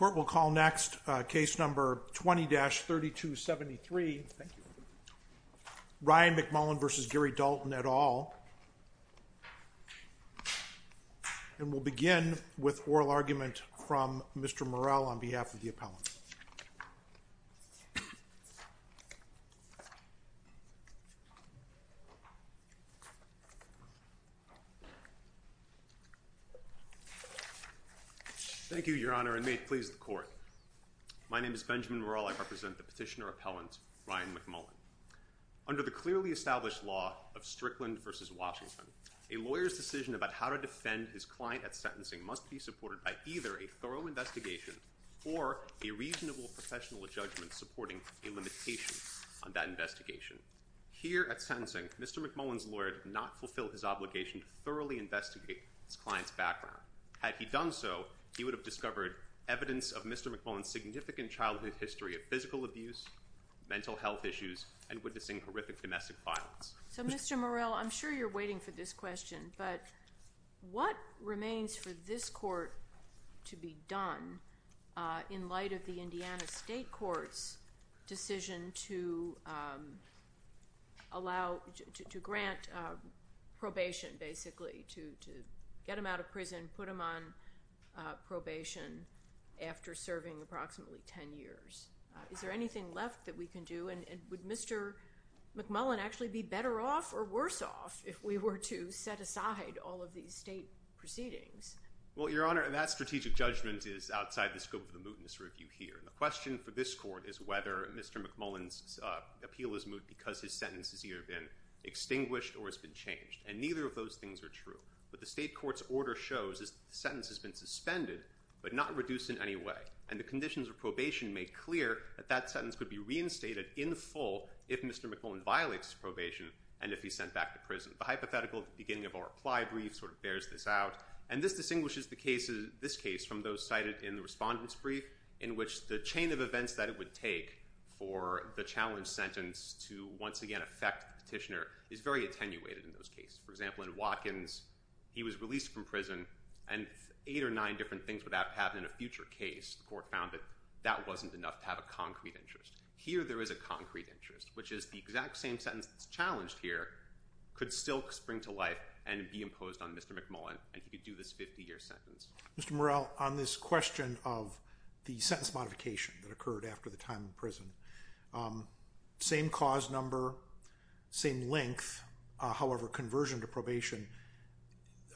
We will begin with oral argument from Mr. Morell on behalf of the appellants. Thank you, Your Honor, and may it please the Court. My name is Benjamin Morell. I represent the petitioner appellant, Ryan McMullen. Under the clearly established law of Strickland v. Washington, a lawyer's decision about how to defend his client at sentencing must be supported by either a thorough investigation or a reasonable professional judgment supporting a limitation on that investigation. Here at sentencing, Mr. McMullen's lawyer did not fulfill his obligation to thoroughly investigate his client's background. Had he done so, he would have discovered evidence of Mr. McMullen's significant childhood history of physical abuse, mental health issues, and witnessing horrific domestic violence. So, Mr. Morell, I'm sure you're waiting for this question, but what remains for this Court to be done in light of the Indiana State Court's decision to grant probation, basically, to get him out of prison, put him on probation after serving approximately 10 years? Is there anything left that we can do, and would Mr. McMullen actually be better off or worse off if we were to set aside all of these state proceedings? Well, Your Honor, that strategic judgment is outside the scope of the mootness review here. The question for this Court is whether Mr. McMullen's appeal is moot because his sentence has either been extinguished or has been changed, and neither of those things are true. What the state court's order shows is that the sentence has been suspended but not reduced in any way, and the conditions of probation make clear that that sentence could be reinstated in full if Mr. McMullen violates his probation and if he's sent back to prison. The hypothetical beginning of our reply brief sort of bears this out, and this distinguishes this case from those cited in the respondent's brief, in which the chain of events that it would take for the challenge sentence to once again affect the petitioner is very attenuated in those cases. For example, in Watkins, he was released from prison, and eight or nine different things would happen in a future case. The Court found that that wasn't enough to have a concrete interest. Here, there is a concrete interest, which is the exact same sentence that's challenged here could still spring to life and be imposed on Mr. McMullen, and he could do this 50-year sentence. Mr. Morell, on this question of the sentence modification that occurred after the time in prison, same cause number, same length, however, conversion to probation,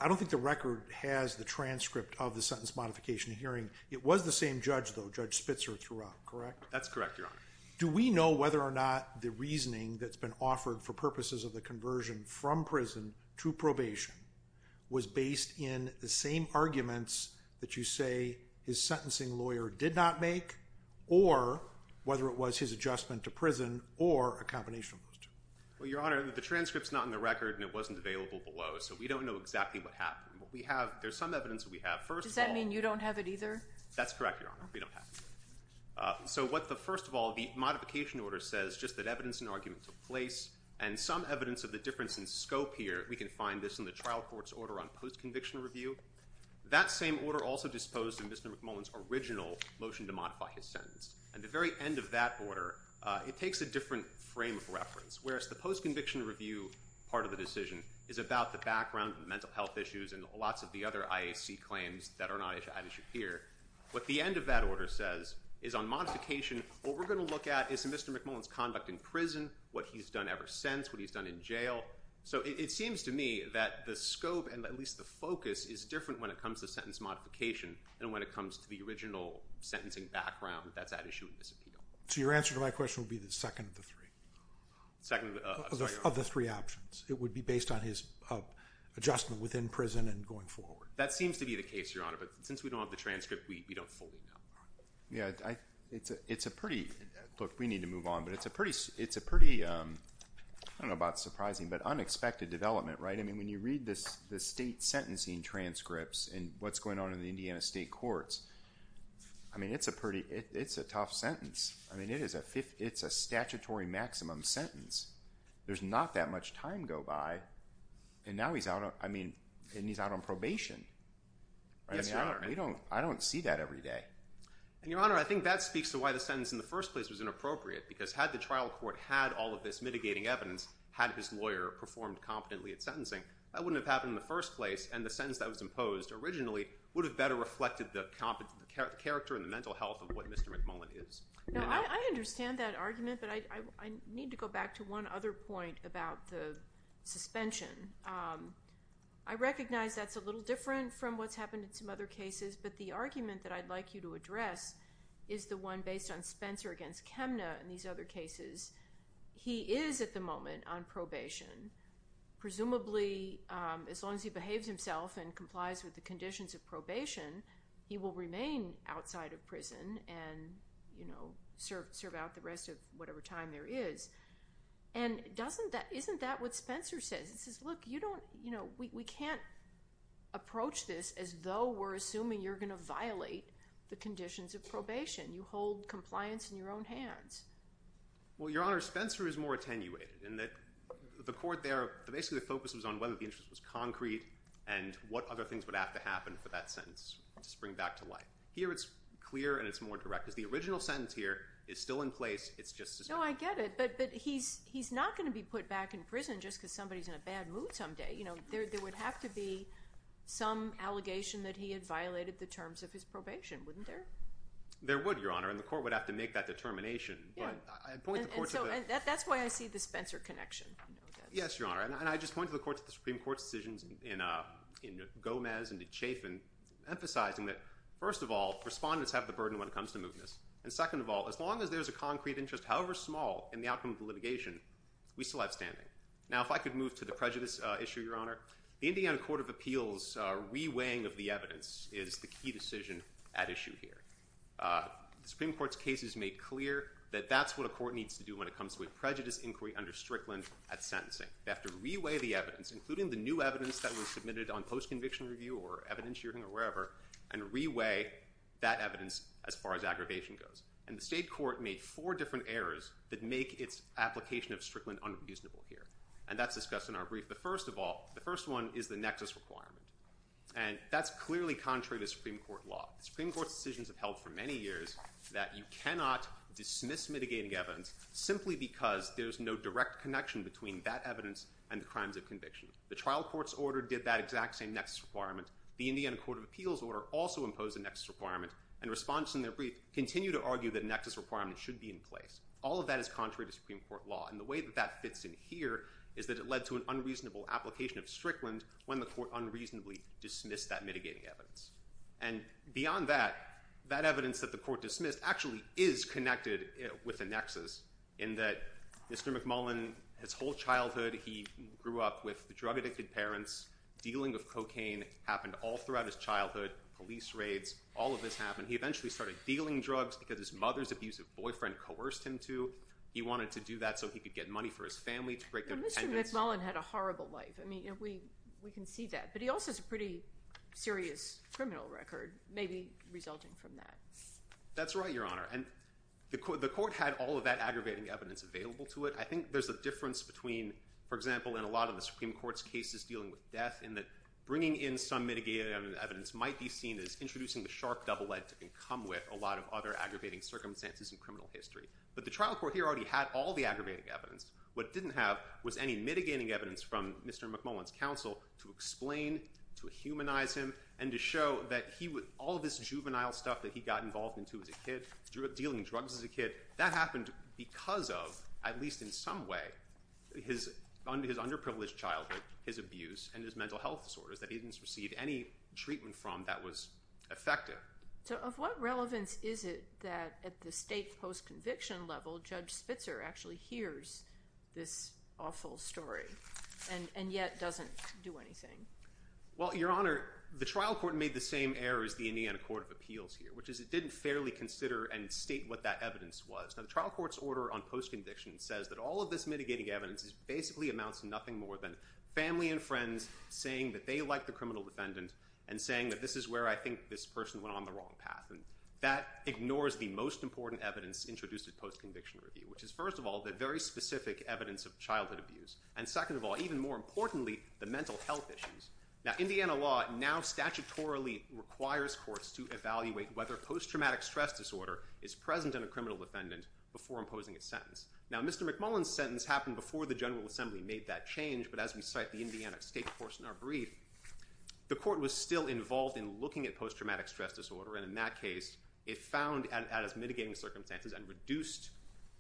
I don't think the record has the transcript of the sentence modification hearing. It was the same judge, though, Judge Spitzer, throughout, correct? That's correct, Your Honor. Do we know whether or not the reasoning that's been offered for purposes of the conversion from prison to probation was based in the same arguments that you say his sentencing lawyer did not make, or whether it was his adjustment to prison, or a combination of those two? Well, Your Honor, the transcript's not in the record, and it wasn't available below, so we don't know exactly what happened. There's some evidence that we have. First of all— Does that mean you don't have it either? That's correct, Your Honor. We don't have it. So first of all, the modification order says just that evidence and argument took place, and some evidence of the difference in scope here, we can find this in the trial court's order on post-conviction review. That same order also disposed in Mr. McMullen's original motion to modify his sentence. At the very end of that order, it takes a different frame of reference, whereas the post-conviction review part of the decision is about the background, the mental health issues, and lots of the other IAC claims that are not at issue here. What the end of that order says is on modification, what we're going to look at is Mr. McMullen's conduct in prison, what he's done ever since, what he's done in jail. So it seems to me that the scope, and at least the focus, is different when it comes to sentence modification than when it comes to the original sentencing background that's at issue in this appeal. So your answer to my question would be the second of the three? Second of the—I'm sorry, Your Honor. Of the three options. It would be based on his adjustment within prison and going forward. That seems to be the case, Your Honor, but since we don't have the transcript, we don't fully know. Yeah, it's a pretty—look, we need to move on, but it's a pretty—I don't know about surprising, but unexpected development, right? I mean, when you read the state sentencing transcripts and what's going on in the Indiana state courts, I mean, it's a pretty—it's a tough sentence. I mean, it is a statutory maximum sentence. There's not that much time go by, and now he's out on—I mean, and he's out on probation. Yes, Your Honor. I mean, I don't see that every day. And, Your Honor, I think that speaks to why the sentence in the first place was inappropriate, because had the trial court had all of this mitigating evidence, had his lawyer performed competently at sentencing, that wouldn't have happened in the first place, and the sentence that was imposed originally would have better reflected the character and the mental health of what Mr. McMullen is. No, I understand that argument, but I need to go back to one other point about the suspension. I recognize that's a little different from what's happened in some other cases, but the argument that I'd like you to address is the one based on Spencer against Chemna and these other cases. He is, at the moment, on probation. Presumably, as long as he behaves himself and complies with the conditions of probation, he will remain outside of prison and serve out the rest of whatever time there is. And isn't that what Spencer says? He says, look, we can't approach this as though we're assuming you're going to violate the conditions of probation. You hold compliance in your own hands. Well, Your Honor, Spencer is more attenuated in that the court there, but basically, the focus was on whether the interest was concrete and what other things would have to happen for that sentence to spring back to life. Here, it's clear and it's more direct, because the original sentence here is still in place. It's just suspension. No, I get it, but he's not going to be put back in prison just because somebody's in a bad mood someday. There would have to be some allegation that he had violated the terms of his probation, wouldn't there? There would, Your Honor, and the court would have to make that determination. And so that's why I see the Spencer connection. Yes, Your Honor, and I just point to the Supreme Court's decisions in Gomez and in Chaffin, emphasizing that, first of all, respondents have the burden when it comes to moving this, and second of all, as long as there's a concrete interest, however small, in the outcome of the litigation, we still have standing. Now, if I could move to the prejudice issue, Your Honor. The Indiana Court of Appeals reweighing of the evidence is the key decision at issue here. The Supreme Court's case is made clear that that's what a court needs to do when it comes to a prejudice inquiry under Strickland at sentencing. They have to reweigh the evidence, including the new evidence that was submitted on post-conviction review or evidence hearing or wherever, and reweigh that evidence as far as aggravation goes. And the state court made four different errors that make its application of Strickland unreasonable here, and that's discussed in our brief. But first of all, the first one is the nexus requirement, and that's clearly contrary to Supreme Court law. The Supreme Court's decisions have held for many years that you cannot dismiss mitigating evidence simply because there's no direct connection between that evidence and the crimes of conviction. The trial court's order did that exact same nexus requirement. The Indiana Court of Appeals order also imposed a nexus requirement, and responses in their brief continue to argue that a nexus requirement should be in place. All of that is contrary to Supreme Court law, and the way that that fits in here is that it led to an unreasonable application of Strickland when the court unreasonably dismissed that mitigating evidence. And beyond that, that evidence that the court dismissed actually is connected with the nexus in that Mr. McMullin, his whole childhood, he grew up with drug-addicted parents. Dealing of cocaine happened all throughout his childhood. Police raids, all of this happened. He eventually started dealing drugs because his mother's abusive boyfriend coerced him to. He wanted to do that so he could get money for his family to break their tendency. Mr. McMullin had a horrible life. We can see that. But he also has a pretty serious criminal record, maybe resulting from that. That's right, Your Honor. The court had all of that aggravating evidence available to it. I think there's a difference between, for example, in a lot of the Supreme Court's cases dealing with death in that bringing in some mitigating evidence might be seen as introducing the sharp double-edged and come with a lot of other aggravating circumstances in criminal history. But the trial court here already had all the aggravating evidence. What it didn't have was any mitigating evidence from Mr. McMullin's counsel to explain, to humanize him, and to show that all of this juvenile stuff that he got involved into as a kid, grew up dealing drugs as a kid, that happened because of, at least in some way, his underprivileged childhood, his abuse, and his mental health disorders that he didn't receive any treatment from that was effective. So of what relevance is it that at the state post-conviction level, Judge Spitzer actually hears this awful story and yet doesn't do anything? Well, Your Honor, the trial court made the same error as the Indiana Court of Appeals here, which is it didn't fairly consider and state what that evidence was. Now the trial court's order on post-conviction says that all of this mitigating evidence basically amounts to nothing more than family and friends saying that they like the criminal defendant and saying that this is where I think this person went on the wrong path. That ignores the most important evidence introduced at post-conviction review, which is, first of all, the very specific evidence of childhood abuse, and second of all, even more importantly, the mental health issues. Now Indiana law now statutorily requires courts to evaluate whether post-traumatic stress disorder is present in a criminal defendant before imposing a sentence. Now Mr. McMullin's sentence happened before the General Assembly made that change, but as we cite the Indiana State Courts in our brief, the court was still involved in looking at post-traumatic stress disorder, and in that case it found as mitigating circumstances and reduced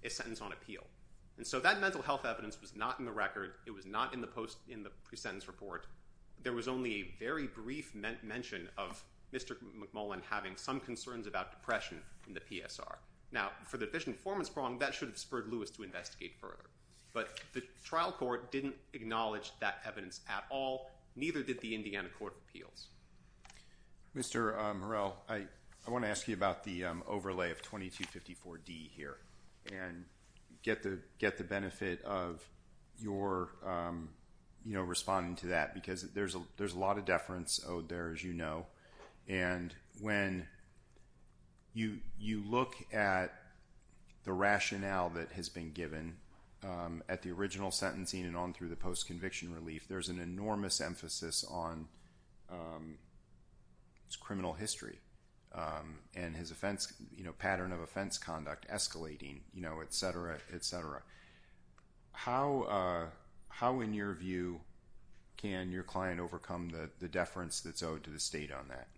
a sentence on appeal. And so that mental health evidence was not in the record. It was not in the pre-sentence report. There was only a very brief mention of Mr. McMullin having some concerns about depression in the PSR. Now for the deficient performance problem, that should have spurred Lewis to investigate further, but the trial court didn't acknowledge that evidence at all, neither did the Indiana Court of Appeals. Mr. Morrell, I want to ask you about the overlay of 2254D here and get the benefit of your responding to that because there's a lot of deference owed there, as you know, and when you look at the rationale that has been given at the original sentencing and on through the post-conviction relief, there's an enormous emphasis on criminal history and his pattern of offense conduct escalating, et cetera, et cetera. How, in your view, can your client overcome the deference that's owed to the state on that?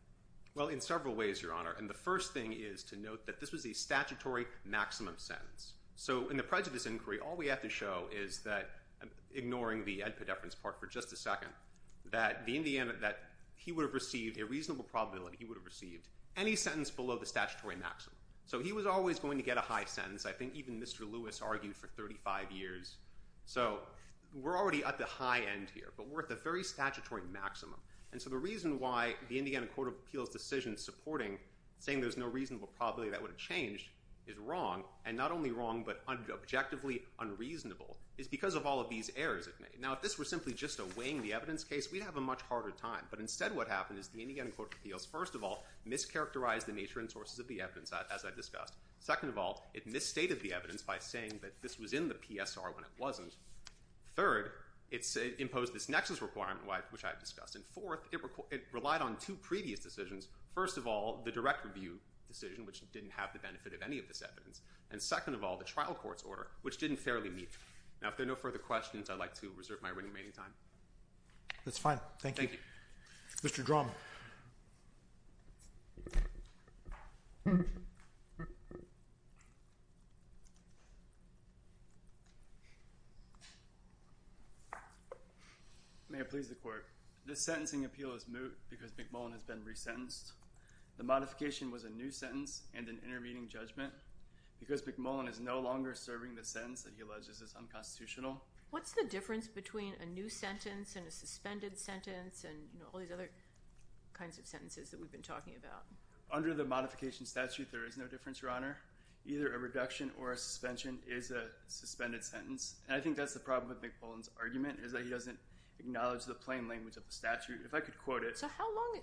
Well, in several ways, Your Honor, and the first thing is to note that this was a statutory maximum sentence. So in the prejudice inquiry, all we have to show is that, ignoring the Edpa deference part for just a second, that he would have received a reasonable probability he would have received any sentence below the statutory maximum. So he was always going to get a high sentence. I think even Mr. Lewis argued for 35 years. So we're already at the high end here, but we're at the very statutory maximum, and so the reason why the Indiana Court of Appeals' decision supporting saying there's no reasonable probability that would have changed is wrong, and not only wrong but objectively unreasonable, is because of all of these errors it made. Now, if this were simply just a weighing the evidence case, we'd have a much harder time, but instead what happened is the Indiana Court of Appeals, first of all, mischaracterized the nature and sources of the evidence, as I discussed. Second of all, it misstated the evidence by saying that this was in the PSR when it wasn't. Third, it imposed this nexus requirement, which I have discussed, and fourth, it relied on two previous decisions. First of all, the direct review decision, which didn't have the benefit of any of this evidence, and second of all, the trial court's order, which didn't fairly meet. Now, if there are no further questions, I'd like to reserve my remaining time. That's fine. Thank you. Thank you. Mr. Drum. May I please the court? This sentencing appeal is moot because McMullen has been resentenced. The modification was a new sentence and an intervening judgment because McMullen is no longer serving the sentence that he alleges is unconstitutional. What's the difference between a new sentence and a suspended sentence and all these other kinds of sentences that we've been talking about? Under the modification statute, there is no difference, Your Honor. Either a reduction or a suspension is a suspended sentence, and I think that's the problem with McMullen's argument is that he doesn't acknowledge the plain language of the statute. If I could quote it.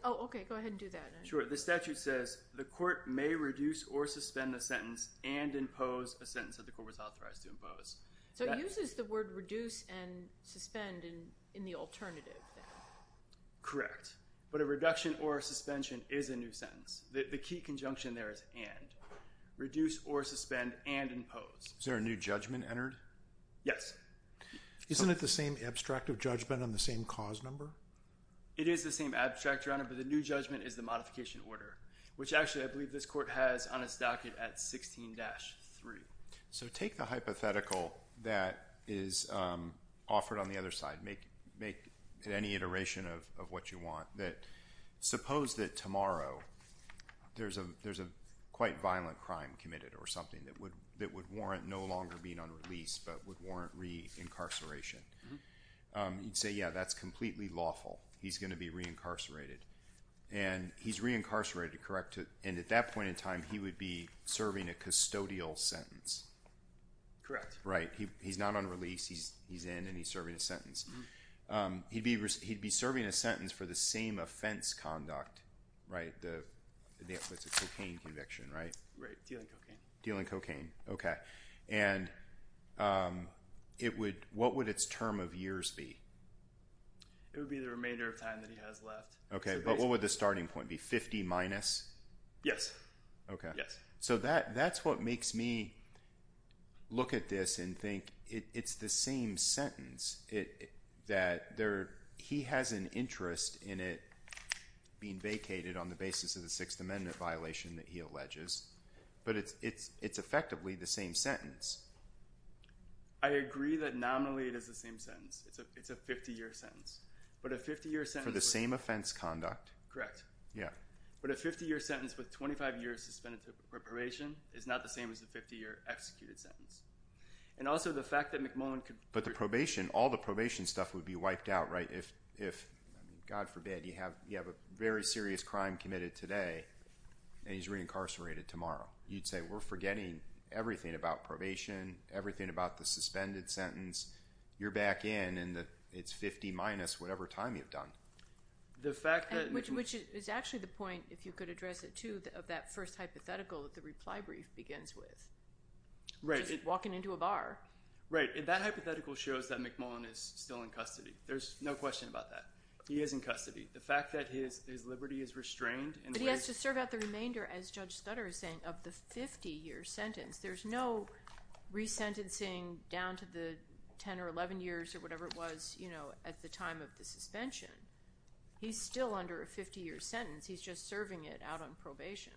Oh, okay. Go ahead and do that. Sure. The statute says the court may reduce or suspend the sentence and impose a sentence that the court was authorized to impose. So it uses the word reduce and suspend in the alternative. Correct. But a reduction or a suspension is a new sentence. The key conjunction there is and. Reduce or suspend and impose. Is there a new judgment entered? Yes. Isn't it the same abstract of judgment on the same cause number? It is the same abstract, Your Honor, but the new judgment is the modification order, which actually I believe this court has on its docket at 16-3. So take the hypothetical that is offered on the other side. Make any iteration of what you want. Suppose that tomorrow there's a quite violent crime committed or something that would warrant no longer being unreleased but would warrant reincarceration. You'd say, yeah, that's completely lawful. He's going to be reincarcerated. And he's reincarcerated, correct? And at that point in time, he would be serving a custodial sentence. Correct. Right. He's not on release. He's in and he's serving a sentence. He'd be serving a sentence for the same offense conduct, right? It's a cocaine conviction, right? Dealing cocaine. Dealing cocaine. Okay. And what would its term of years be? It would be the remainder of time that he has left. Okay. But what would the starting point be, 50 minus? Yes. Okay. So that's what makes me look at this and think it's the same sentence that he has an interest in it being vacated on the basis of the Sixth Amendment violation that he alleges. But it's effectively the same sentence. I agree that nominally it is the same sentence. It's a 50-year sentence. For the same offense conduct? Correct. Yeah. But a 50-year sentence with 25 years suspended for probation is not the same as a 50-year executed sentence. And also the fact that McMullin could be- But the probation, all the probation stuff would be wiped out, right? If, God forbid, you have a very serious crime committed today and he's reincarcerated tomorrow, you'd say we're forgetting everything about probation, everything about the suspended sentence. You're back in and it's 50 minus whatever time you've done. Which is actually the point, if you could address it too, of that first hypothetical that the reply brief begins with. Right. Just walking into a bar. Right. That hypothetical shows that McMullin is still in custody. There's no question about that. He is in custody. The fact that his liberty is restrained- But he has to serve out the remainder, as Judge Stutter is saying, of the 50-year sentence. There's no resentencing down to the 10 or 11 years or whatever it was at the time of the suspension. He's still under a 50-year sentence. He's just serving it out on probation.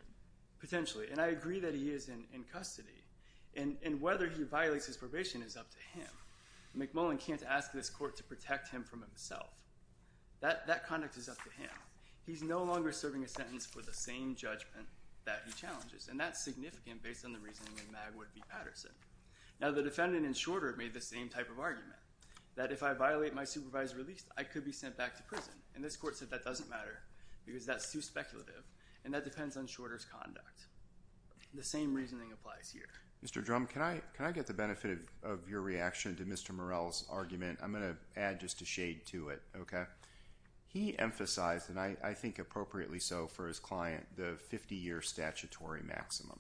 Potentially. And I agree that he is in custody. And whether he violates his probation is up to him. McMullin can't ask this court to protect him from himself. That conduct is up to him. He's no longer serving a sentence for the same judgment that he challenges. And that's significant based on the reasoning in Magwood v. Patterson. Now the defendant in Shorter made the same type of argument. That if I violate my supervised release, I could be sent back to prison. And this court said that doesn't matter because that's too speculative. And that depends on Shorter's conduct. The same reasoning applies here. Mr. Drumm, can I get the benefit of your reaction to Mr. Morell's argument? I'm going to add just a shade to it. He emphasized, and I think appropriately so for his client, the 50-year statutory maximum.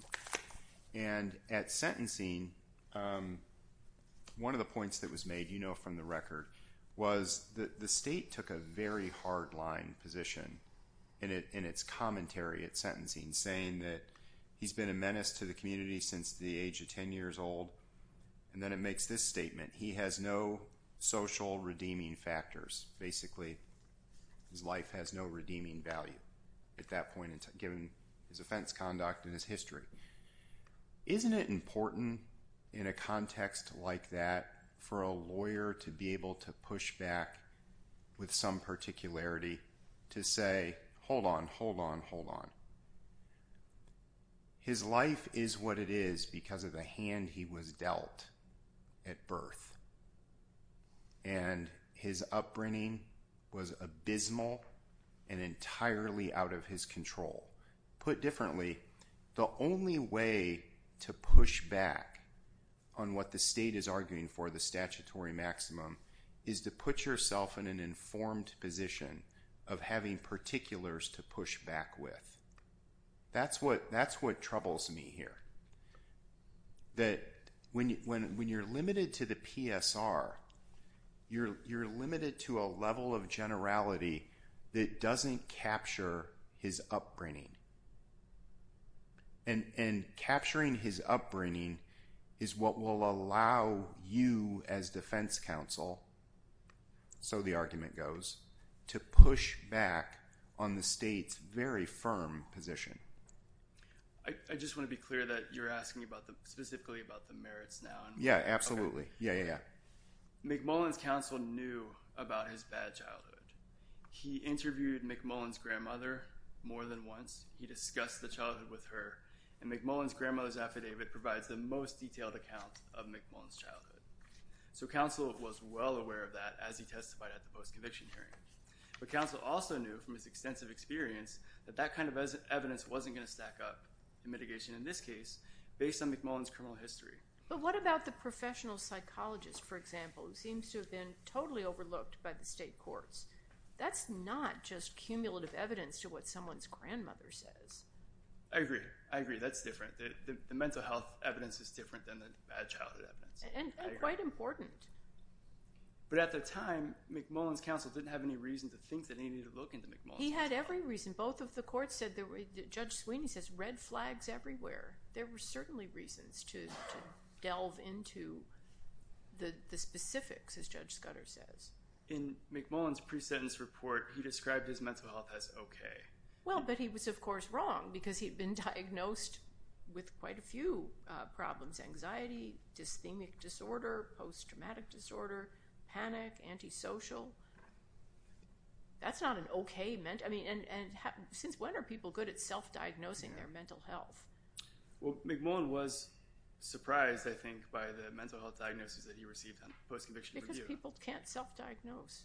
And at sentencing, one of the points that was made, you know from the record, was that the state took a very hard line position in its commentary at sentencing saying that he's been a menace to the community since the age of 10 years old. And then it makes this statement. He has no social redeeming factors. Basically, his life has no redeeming value at that point given his offense conduct and his history. Isn't it important in a context like that for a lawyer to be able to push back with some particularity to say, hold on, hold on, hold on. His life is what it is because of the hand he was dealt at birth. And his upbringing was abysmal and entirely out of his control. Put differently, the only way to push back on what the state is arguing for, the statutory maximum, is to put yourself in an informed position of having particulars to push back with. That's what troubles me here. That when you're limited to the PSR, you're limited to a level of generality that doesn't capture his upbringing. And capturing his upbringing is what will allow you as defense counsel, so the argument goes, to push back on the state's very firm position. I just want to be clear that you're asking specifically about the merits now. Yeah, absolutely. Yeah, yeah, yeah. McMullen's counsel knew about his bad childhood. He interviewed McMullen's grandmother more than once. He discussed the childhood with her. And McMullen's grandmother's affidavit provides the most detailed account of McMullen's childhood. So counsel was well aware of that as he testified at the post-conviction hearing. But counsel also knew from his extensive experience that that kind of evidence wasn't going to stack up in mitigation in this case based on McMullen's criminal history. But what about the professional psychologist, for example, who seems to have been totally overlooked by the state courts? That's not just cumulative evidence to what someone's grandmother says. I agree. I agree. That's different. The mental health evidence is different than the bad childhood evidence. And quite important. But at the time, McMullen's counsel didn't have any reason to think that he needed to look into McMullen's case. He had every reason. Both of the courts said that Judge Sweeney says red flags everywhere. There were certainly reasons to delve into the specifics, as Judge Scudder says. In McMullen's pre-sentence report, he described his mental health as okay. Well, but he was, of course, wrong because he had been diagnosed with quite a few problems. Anxiety, dysthemic disorder, post-traumatic disorder, panic, antisocial. That's not an okay mental health. And since when are people good at self-diagnosing their mental health? Well, McMullen was surprised, I think, by the mental health diagnosis that he received on a post-conviction review. Because people can't self-diagnose.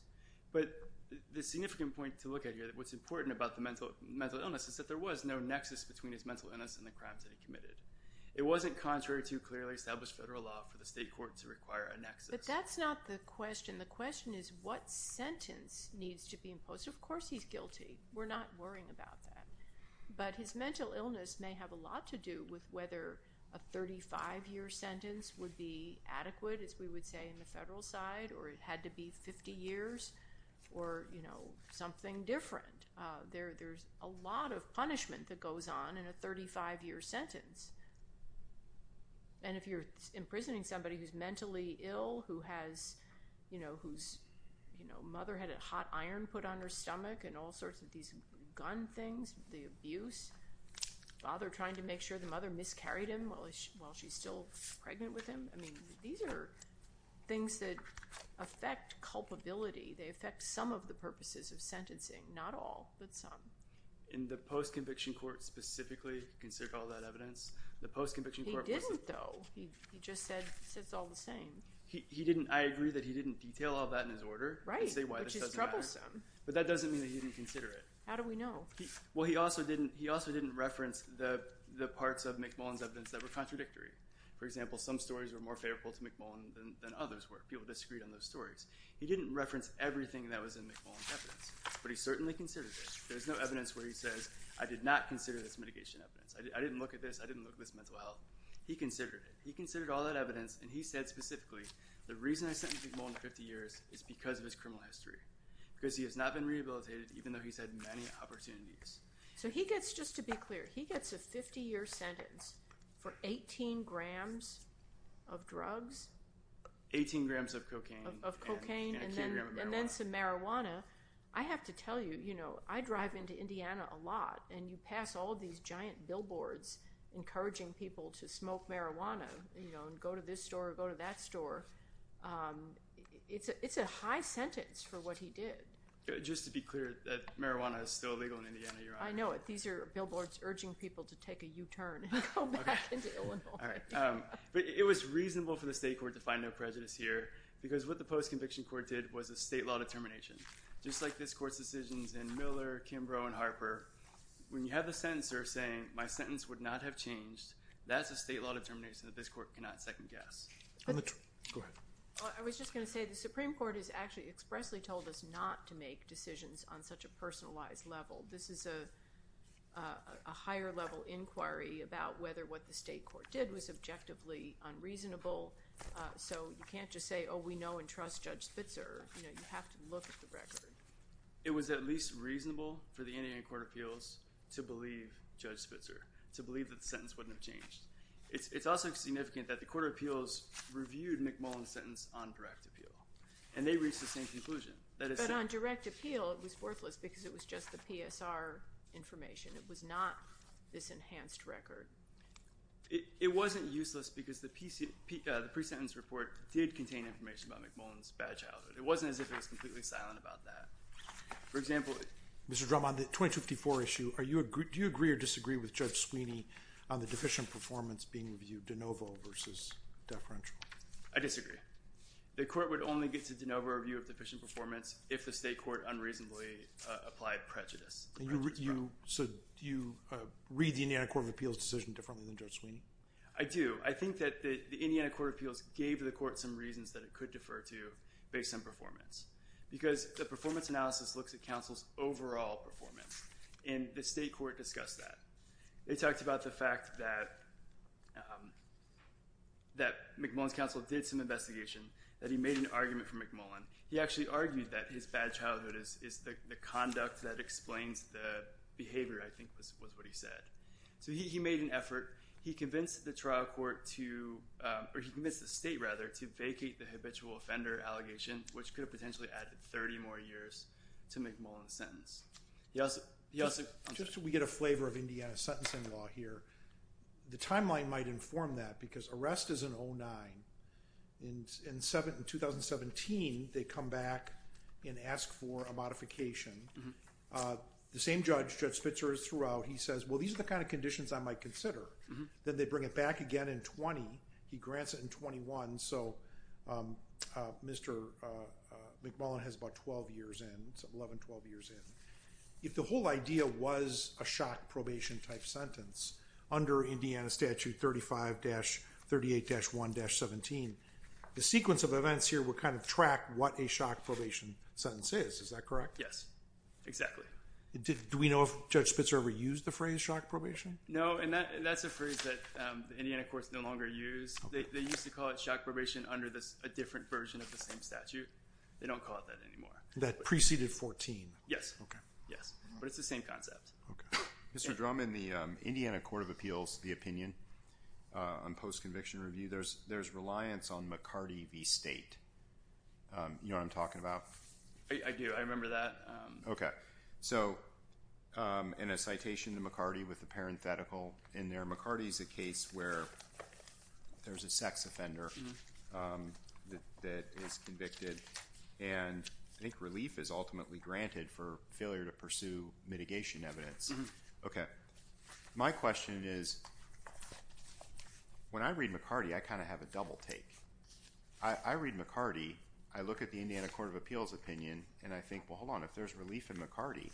But the significant point to look at here, what's important about the mental illness is that there was no nexus between his mental illness and the crimes that he committed. It wasn't contrary to clearly established federal law for the state court to require a nexus. But that's not the question. The question is what sentence needs to be imposed. Of course, he's guilty. We're not worrying about that. But his mental illness may have a lot to do with whether a 35-year sentence would be adequate, as we would say in the federal side, or it had to be 50 years, or something different. There's a lot of punishment that goes on in a 35-year sentence. And if you're imprisoning somebody who's mentally ill, whose mother had a hot iron put on her stomach, and all sorts of these gun things, the abuse, father trying to make sure the mother miscarried him while she's still pregnant with him, these are things that affect culpability. They affect some of the purposes of sentencing, not all, but some. In the post-conviction court specifically, you can see all that evidence. He didn't, though. He just said it's all the same. I agree that he didn't detail all that in his order. Right, which is troublesome. But that doesn't mean that he didn't consider it. How do we know? Well, he also didn't reference the parts of McMullen's evidence that were contradictory. For example, some stories were more favorable to McMullen than others were. People disagreed on those stories. He didn't reference everything that was in McMullen's evidence, but he certainly considered it. There's no evidence where he says, I did not consider this mitigation evidence. I didn't look at this. I didn't look at this mental health. He considered it. He said specifically, the reason I sentenced McMullen to 50 years is because of his criminal history, because he has not been rehabilitated even though he's had many opportunities. So he gets, just to be clear, he gets a 50-year sentence for 18 grams of drugs? Eighteen grams of cocaine and a kilogram of marijuana. And then some marijuana. I have to tell you, you know, I drive into Indiana a lot, and you pass all these giant billboards encouraging people to smoke marijuana and go to this store or go to that store. It's a high sentence for what he did. Just to be clear, marijuana is still illegal in Indiana, Your Honor. I know it. These are billboards urging people to take a U-turn and go back into Illinois. But it was reasonable for the state court to find no prejudice here because what the post-conviction court did was a state law determination. Just like this court's decisions in Miller, Kimbrough, and Harper, when you have the sentencer saying, my sentence would not have changed, that's a state law determination that this court cannot second-guess. Go ahead. I was just going to say the Supreme Court has actually expressly told us not to make decisions on such a personalized level. This is a higher-level inquiry about whether what the state court did was objectively unreasonable. So you can't just say, oh, we know and trust Judge Spitzer. You have to look at the record. It was at least reasonable for the Indiana Court of Appeals to believe Judge Spitzer, to believe that the sentence wouldn't have changed. It's also significant that the Court of Appeals reviewed McMullen's sentence on direct appeal, and they reached the same conclusion. But on direct appeal, it was worthless because it was just the PSR information. It was not this enhanced record. It wasn't useless because the pre-sentence report did contain information about McMullen's bad childhood. It wasn't as if it was completely silent about that. For example, Mr. Drum, on the 2254 issue, do you agree or disagree with Judge Sweeney on the deficient performance being reviewed de novo versus deferential? I disagree. The court would only get to de novo review of deficient performance if the state court unreasonably applied prejudice. So do you read the Indiana Court of Appeals decision differently than Judge Sweeney? I do. I think that the Indiana Court of Appeals gave the court some reasons that it could defer to based on performance. Because the performance analysis looks at counsel's overall performance, and the state court discussed that. They talked about the fact that McMullen's counsel did some investigation, that he made an argument for McMullen. He actually argued that his bad childhood is the conduct that explains the behavior, I think was what he said. So he made an effort. He convinced the trial court to—or he convinced the state, rather, to vacate the habitual offender allegation, which could have potentially added 30 more years to McMullen's sentence. Yes? Just so we get a flavor of Indiana's sentencing law here, the timeline might inform that because arrest is in 09. In 2017, they come back and ask for a modification. The same judge, Judge Spitzer, is throughout. He says, well, these are the kind of conditions I might consider. Then they bring it back again in 20. He grants it in 21. So Mr. McMullen has about 12 years in, 11, 12 years in. If the whole idea was a shock probation-type sentence, under Indiana Statute 35-38-1-17, the sequence of events here would kind of track what a shock probation sentence is. Is that correct? Yes, exactly. Do we know if Judge Spitzer ever used the phrase shock probation? No, and that's a phrase that the Indiana courts no longer use. They used to call it shock probation under a different version of the same statute. They don't call it that anymore. That preceded 14? Yes. Okay. Yes. But it's the same concept. Okay. Mr. Drum, in the Indiana Court of Appeals, the opinion on post-conviction review, there's reliance on McCarty v. State. You know what I'm talking about? I do. I remember that. Okay. So in a citation to McCarty with a parenthetical in there, McCarty's a case where there's a sex offender that is convicted, and I think relief is ultimately granted for failure to pursue mitigation evidence. Okay. My question is, when I read McCarty, I kind of have a double take. I read McCarty, I look at the Indiana Court of Appeals opinion, and I think, well, hold on, if there's relief in McCarty,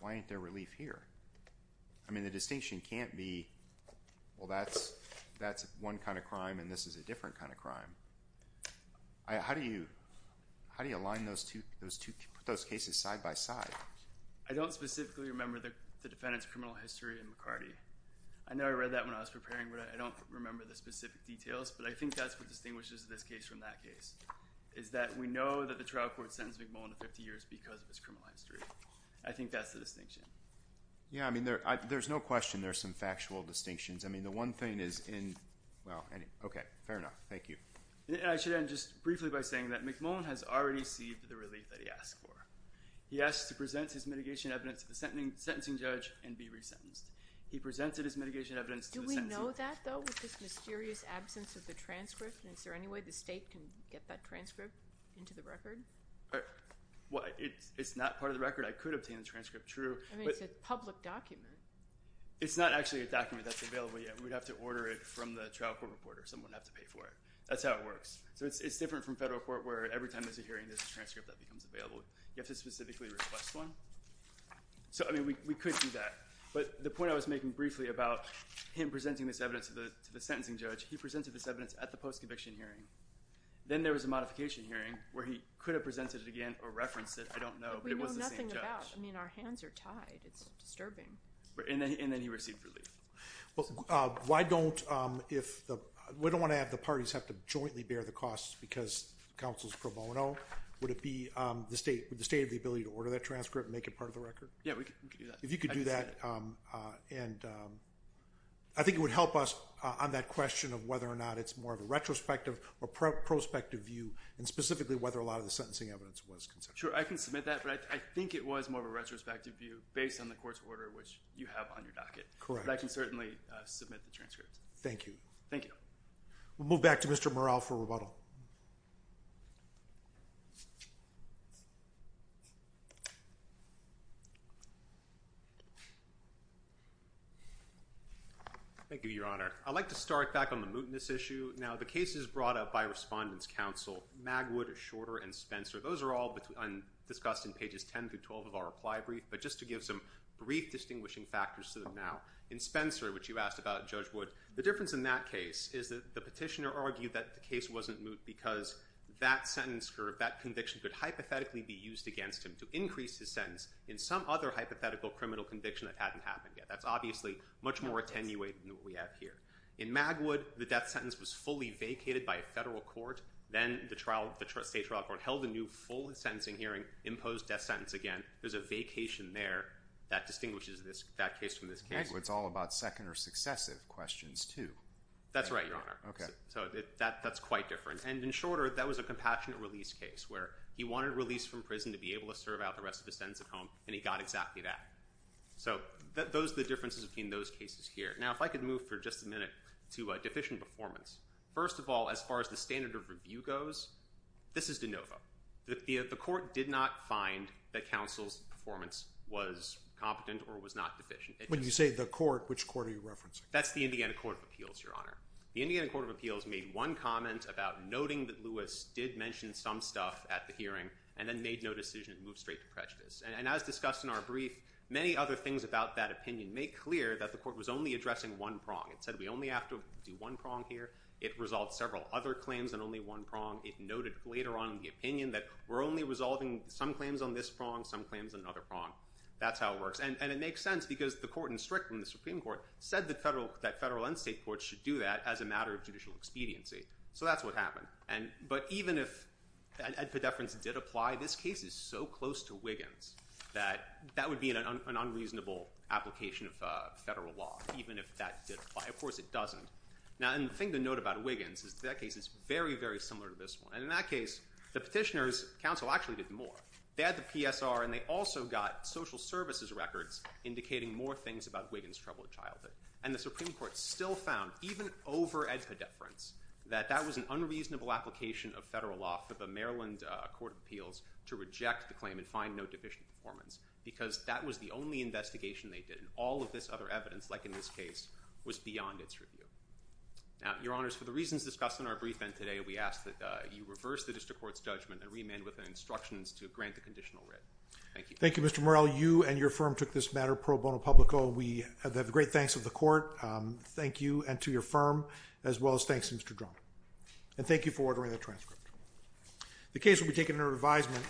why ain't there relief here? I mean, the distinction can't be, well, that's one kind of crime and this is a different kind of crime. How do you align those two cases side by side? I don't specifically remember the defendant's criminal history in McCarty. I know I read that when I was preparing, but I don't remember the specific details, but I think that's what distinguishes this case from that case, is that we know that the trial court sentenced McMullen to 50 years because of his criminal history. I think that's the distinction. Yeah, I mean, there's no question there's some factual distinctions. I mean, the one thing is in, well, okay, fair enough. Thank you. I should end just briefly by saying that McMullen has already received the relief that he asked for. He asked to present his mitigation evidence to the sentencing judge and be resentenced. He presented his mitigation evidence to the sentencing judge. Do we know that, though, with this mysterious absence of the transcript? Is there any way the state can get that transcript into the record? Well, it's not part of the record. I could obtain the transcript, true. I mean, it's a public document. It's not actually a document that's available yet. We'd have to order it from the trial court reporter. Someone would have to pay for it. That's how it works. So it's different from federal court where every time there's a hearing, there's a transcript that becomes available. You have to specifically request one. So, I mean, we could do that. But the point I was making briefly about him presenting this evidence to the conviction hearing, then there was a modification hearing where he could have presented it again or referenced it. I don't know. But it was the same judge. We know nothing about it. I mean, our hands are tied. It's disturbing. And then he received relief. Well, why don't, if the, we don't want to have the parties have to jointly bear the costs because counsel's pro bono. Would it be the state with the state of the ability to order that transcript and make it part of the record? Yeah, we could do that. If you could do that. And I think it would help us on that question of whether or not it's more of a retrospective or prospective view. And specifically whether a lot of the sentencing evidence was. Sure. I can submit that, but I think it was more of a retrospective view based on the court's order, which you have on your docket. Correct. I can certainly submit the transcript. Thank you. Thank you. We'll move back to Mr. Morrell for rebuttal. Thank you, your honor. I'd like to start back on the mootness issue. Now the case is brought up by respondents council. Magwood is shorter and Spencer. Those are all between undiscussed in pages 10 through 12 of our reply brief, but just to give some brief distinguishing factors to them. Now in Spencer, which you asked about judge wood, the difference in that case is that the petitioner argued that the case wasn't moot because that sentence curve, that conviction could hypothetically be used against him to increase his sentence in some other hypothetical criminal conviction that hadn't happened yet. That's obviously much more attenuated than what we have here in Magwood. The death sentence was fully vacated by a federal court. Then the trial, the state trial court held a new full sentencing hearing imposed death sentence. Again, there's a vacation there that distinguishes this, that case from this case. It's all about second or successive questions too. That's right, your honor. Okay. So that that's quite different. And in shorter, that was a compassionate release case where he wanted to release from prison to be able to serve out the rest of the sentence at home. And he got exactly that. So those are the differences between those cases here. Now, if I could move for just a minute to a deficient performance, first of all, as far as the standard of review goes, this is DeNova. The court did not find that counsel's performance was competent or was not deficient. When you say the court, which court are you referencing? That's the Indiana court of appeals, your honor. The Indiana court of appeals made one comment about noting that Lewis did mention some stuff at the hearing and then made no decision and moved straight to prejudice. And as discussed in our brief, many other things about that opinion make clear that the court was only addressing one prong. It said we only have to do one prong here. It resolved several other claims and only one prong. It noted later on in the opinion that we're only resolving some claims on this prong, some claims, another prong. That's how it works. And it makes sense because the court and strict from the Supreme court said that federal, that federal and state courts should do that as a matter of judicial expediency. So that's what happened. And, but even if. And for deference did apply, this case is so close to Wiggins that that would be an, an unreasonable application of federal law, even if that did apply. Of course it doesn't. Now, and the thing to note about Wiggins is that case is very, very similar to this one. And in that case, the petitioners council actually did more bad, the PSR, and they also got social services records indicating more things about Wiggins troubled childhood. And the Supreme court still found even over at the deference that that was an unreasonable application of federal law for the Maryland court of appeals to reject the claim and find no deficient performance because that was the only investigation they did. And all of this other evidence, like in this case was beyond its review. Now, your honors, for the reasons discussed in our brief and today, we ask that you reverse the district court's judgment and remand with instructions to grant the conditional writ. Thank you. Thank you, Mr. Morrell, you and your firm took this matter pro bono public. Oh, we have the great thanks of the court. Thank you. And to your firm, as well as thanks to Mr. Drum. And thank you for ordering the transcript. The case will be taken under advisement.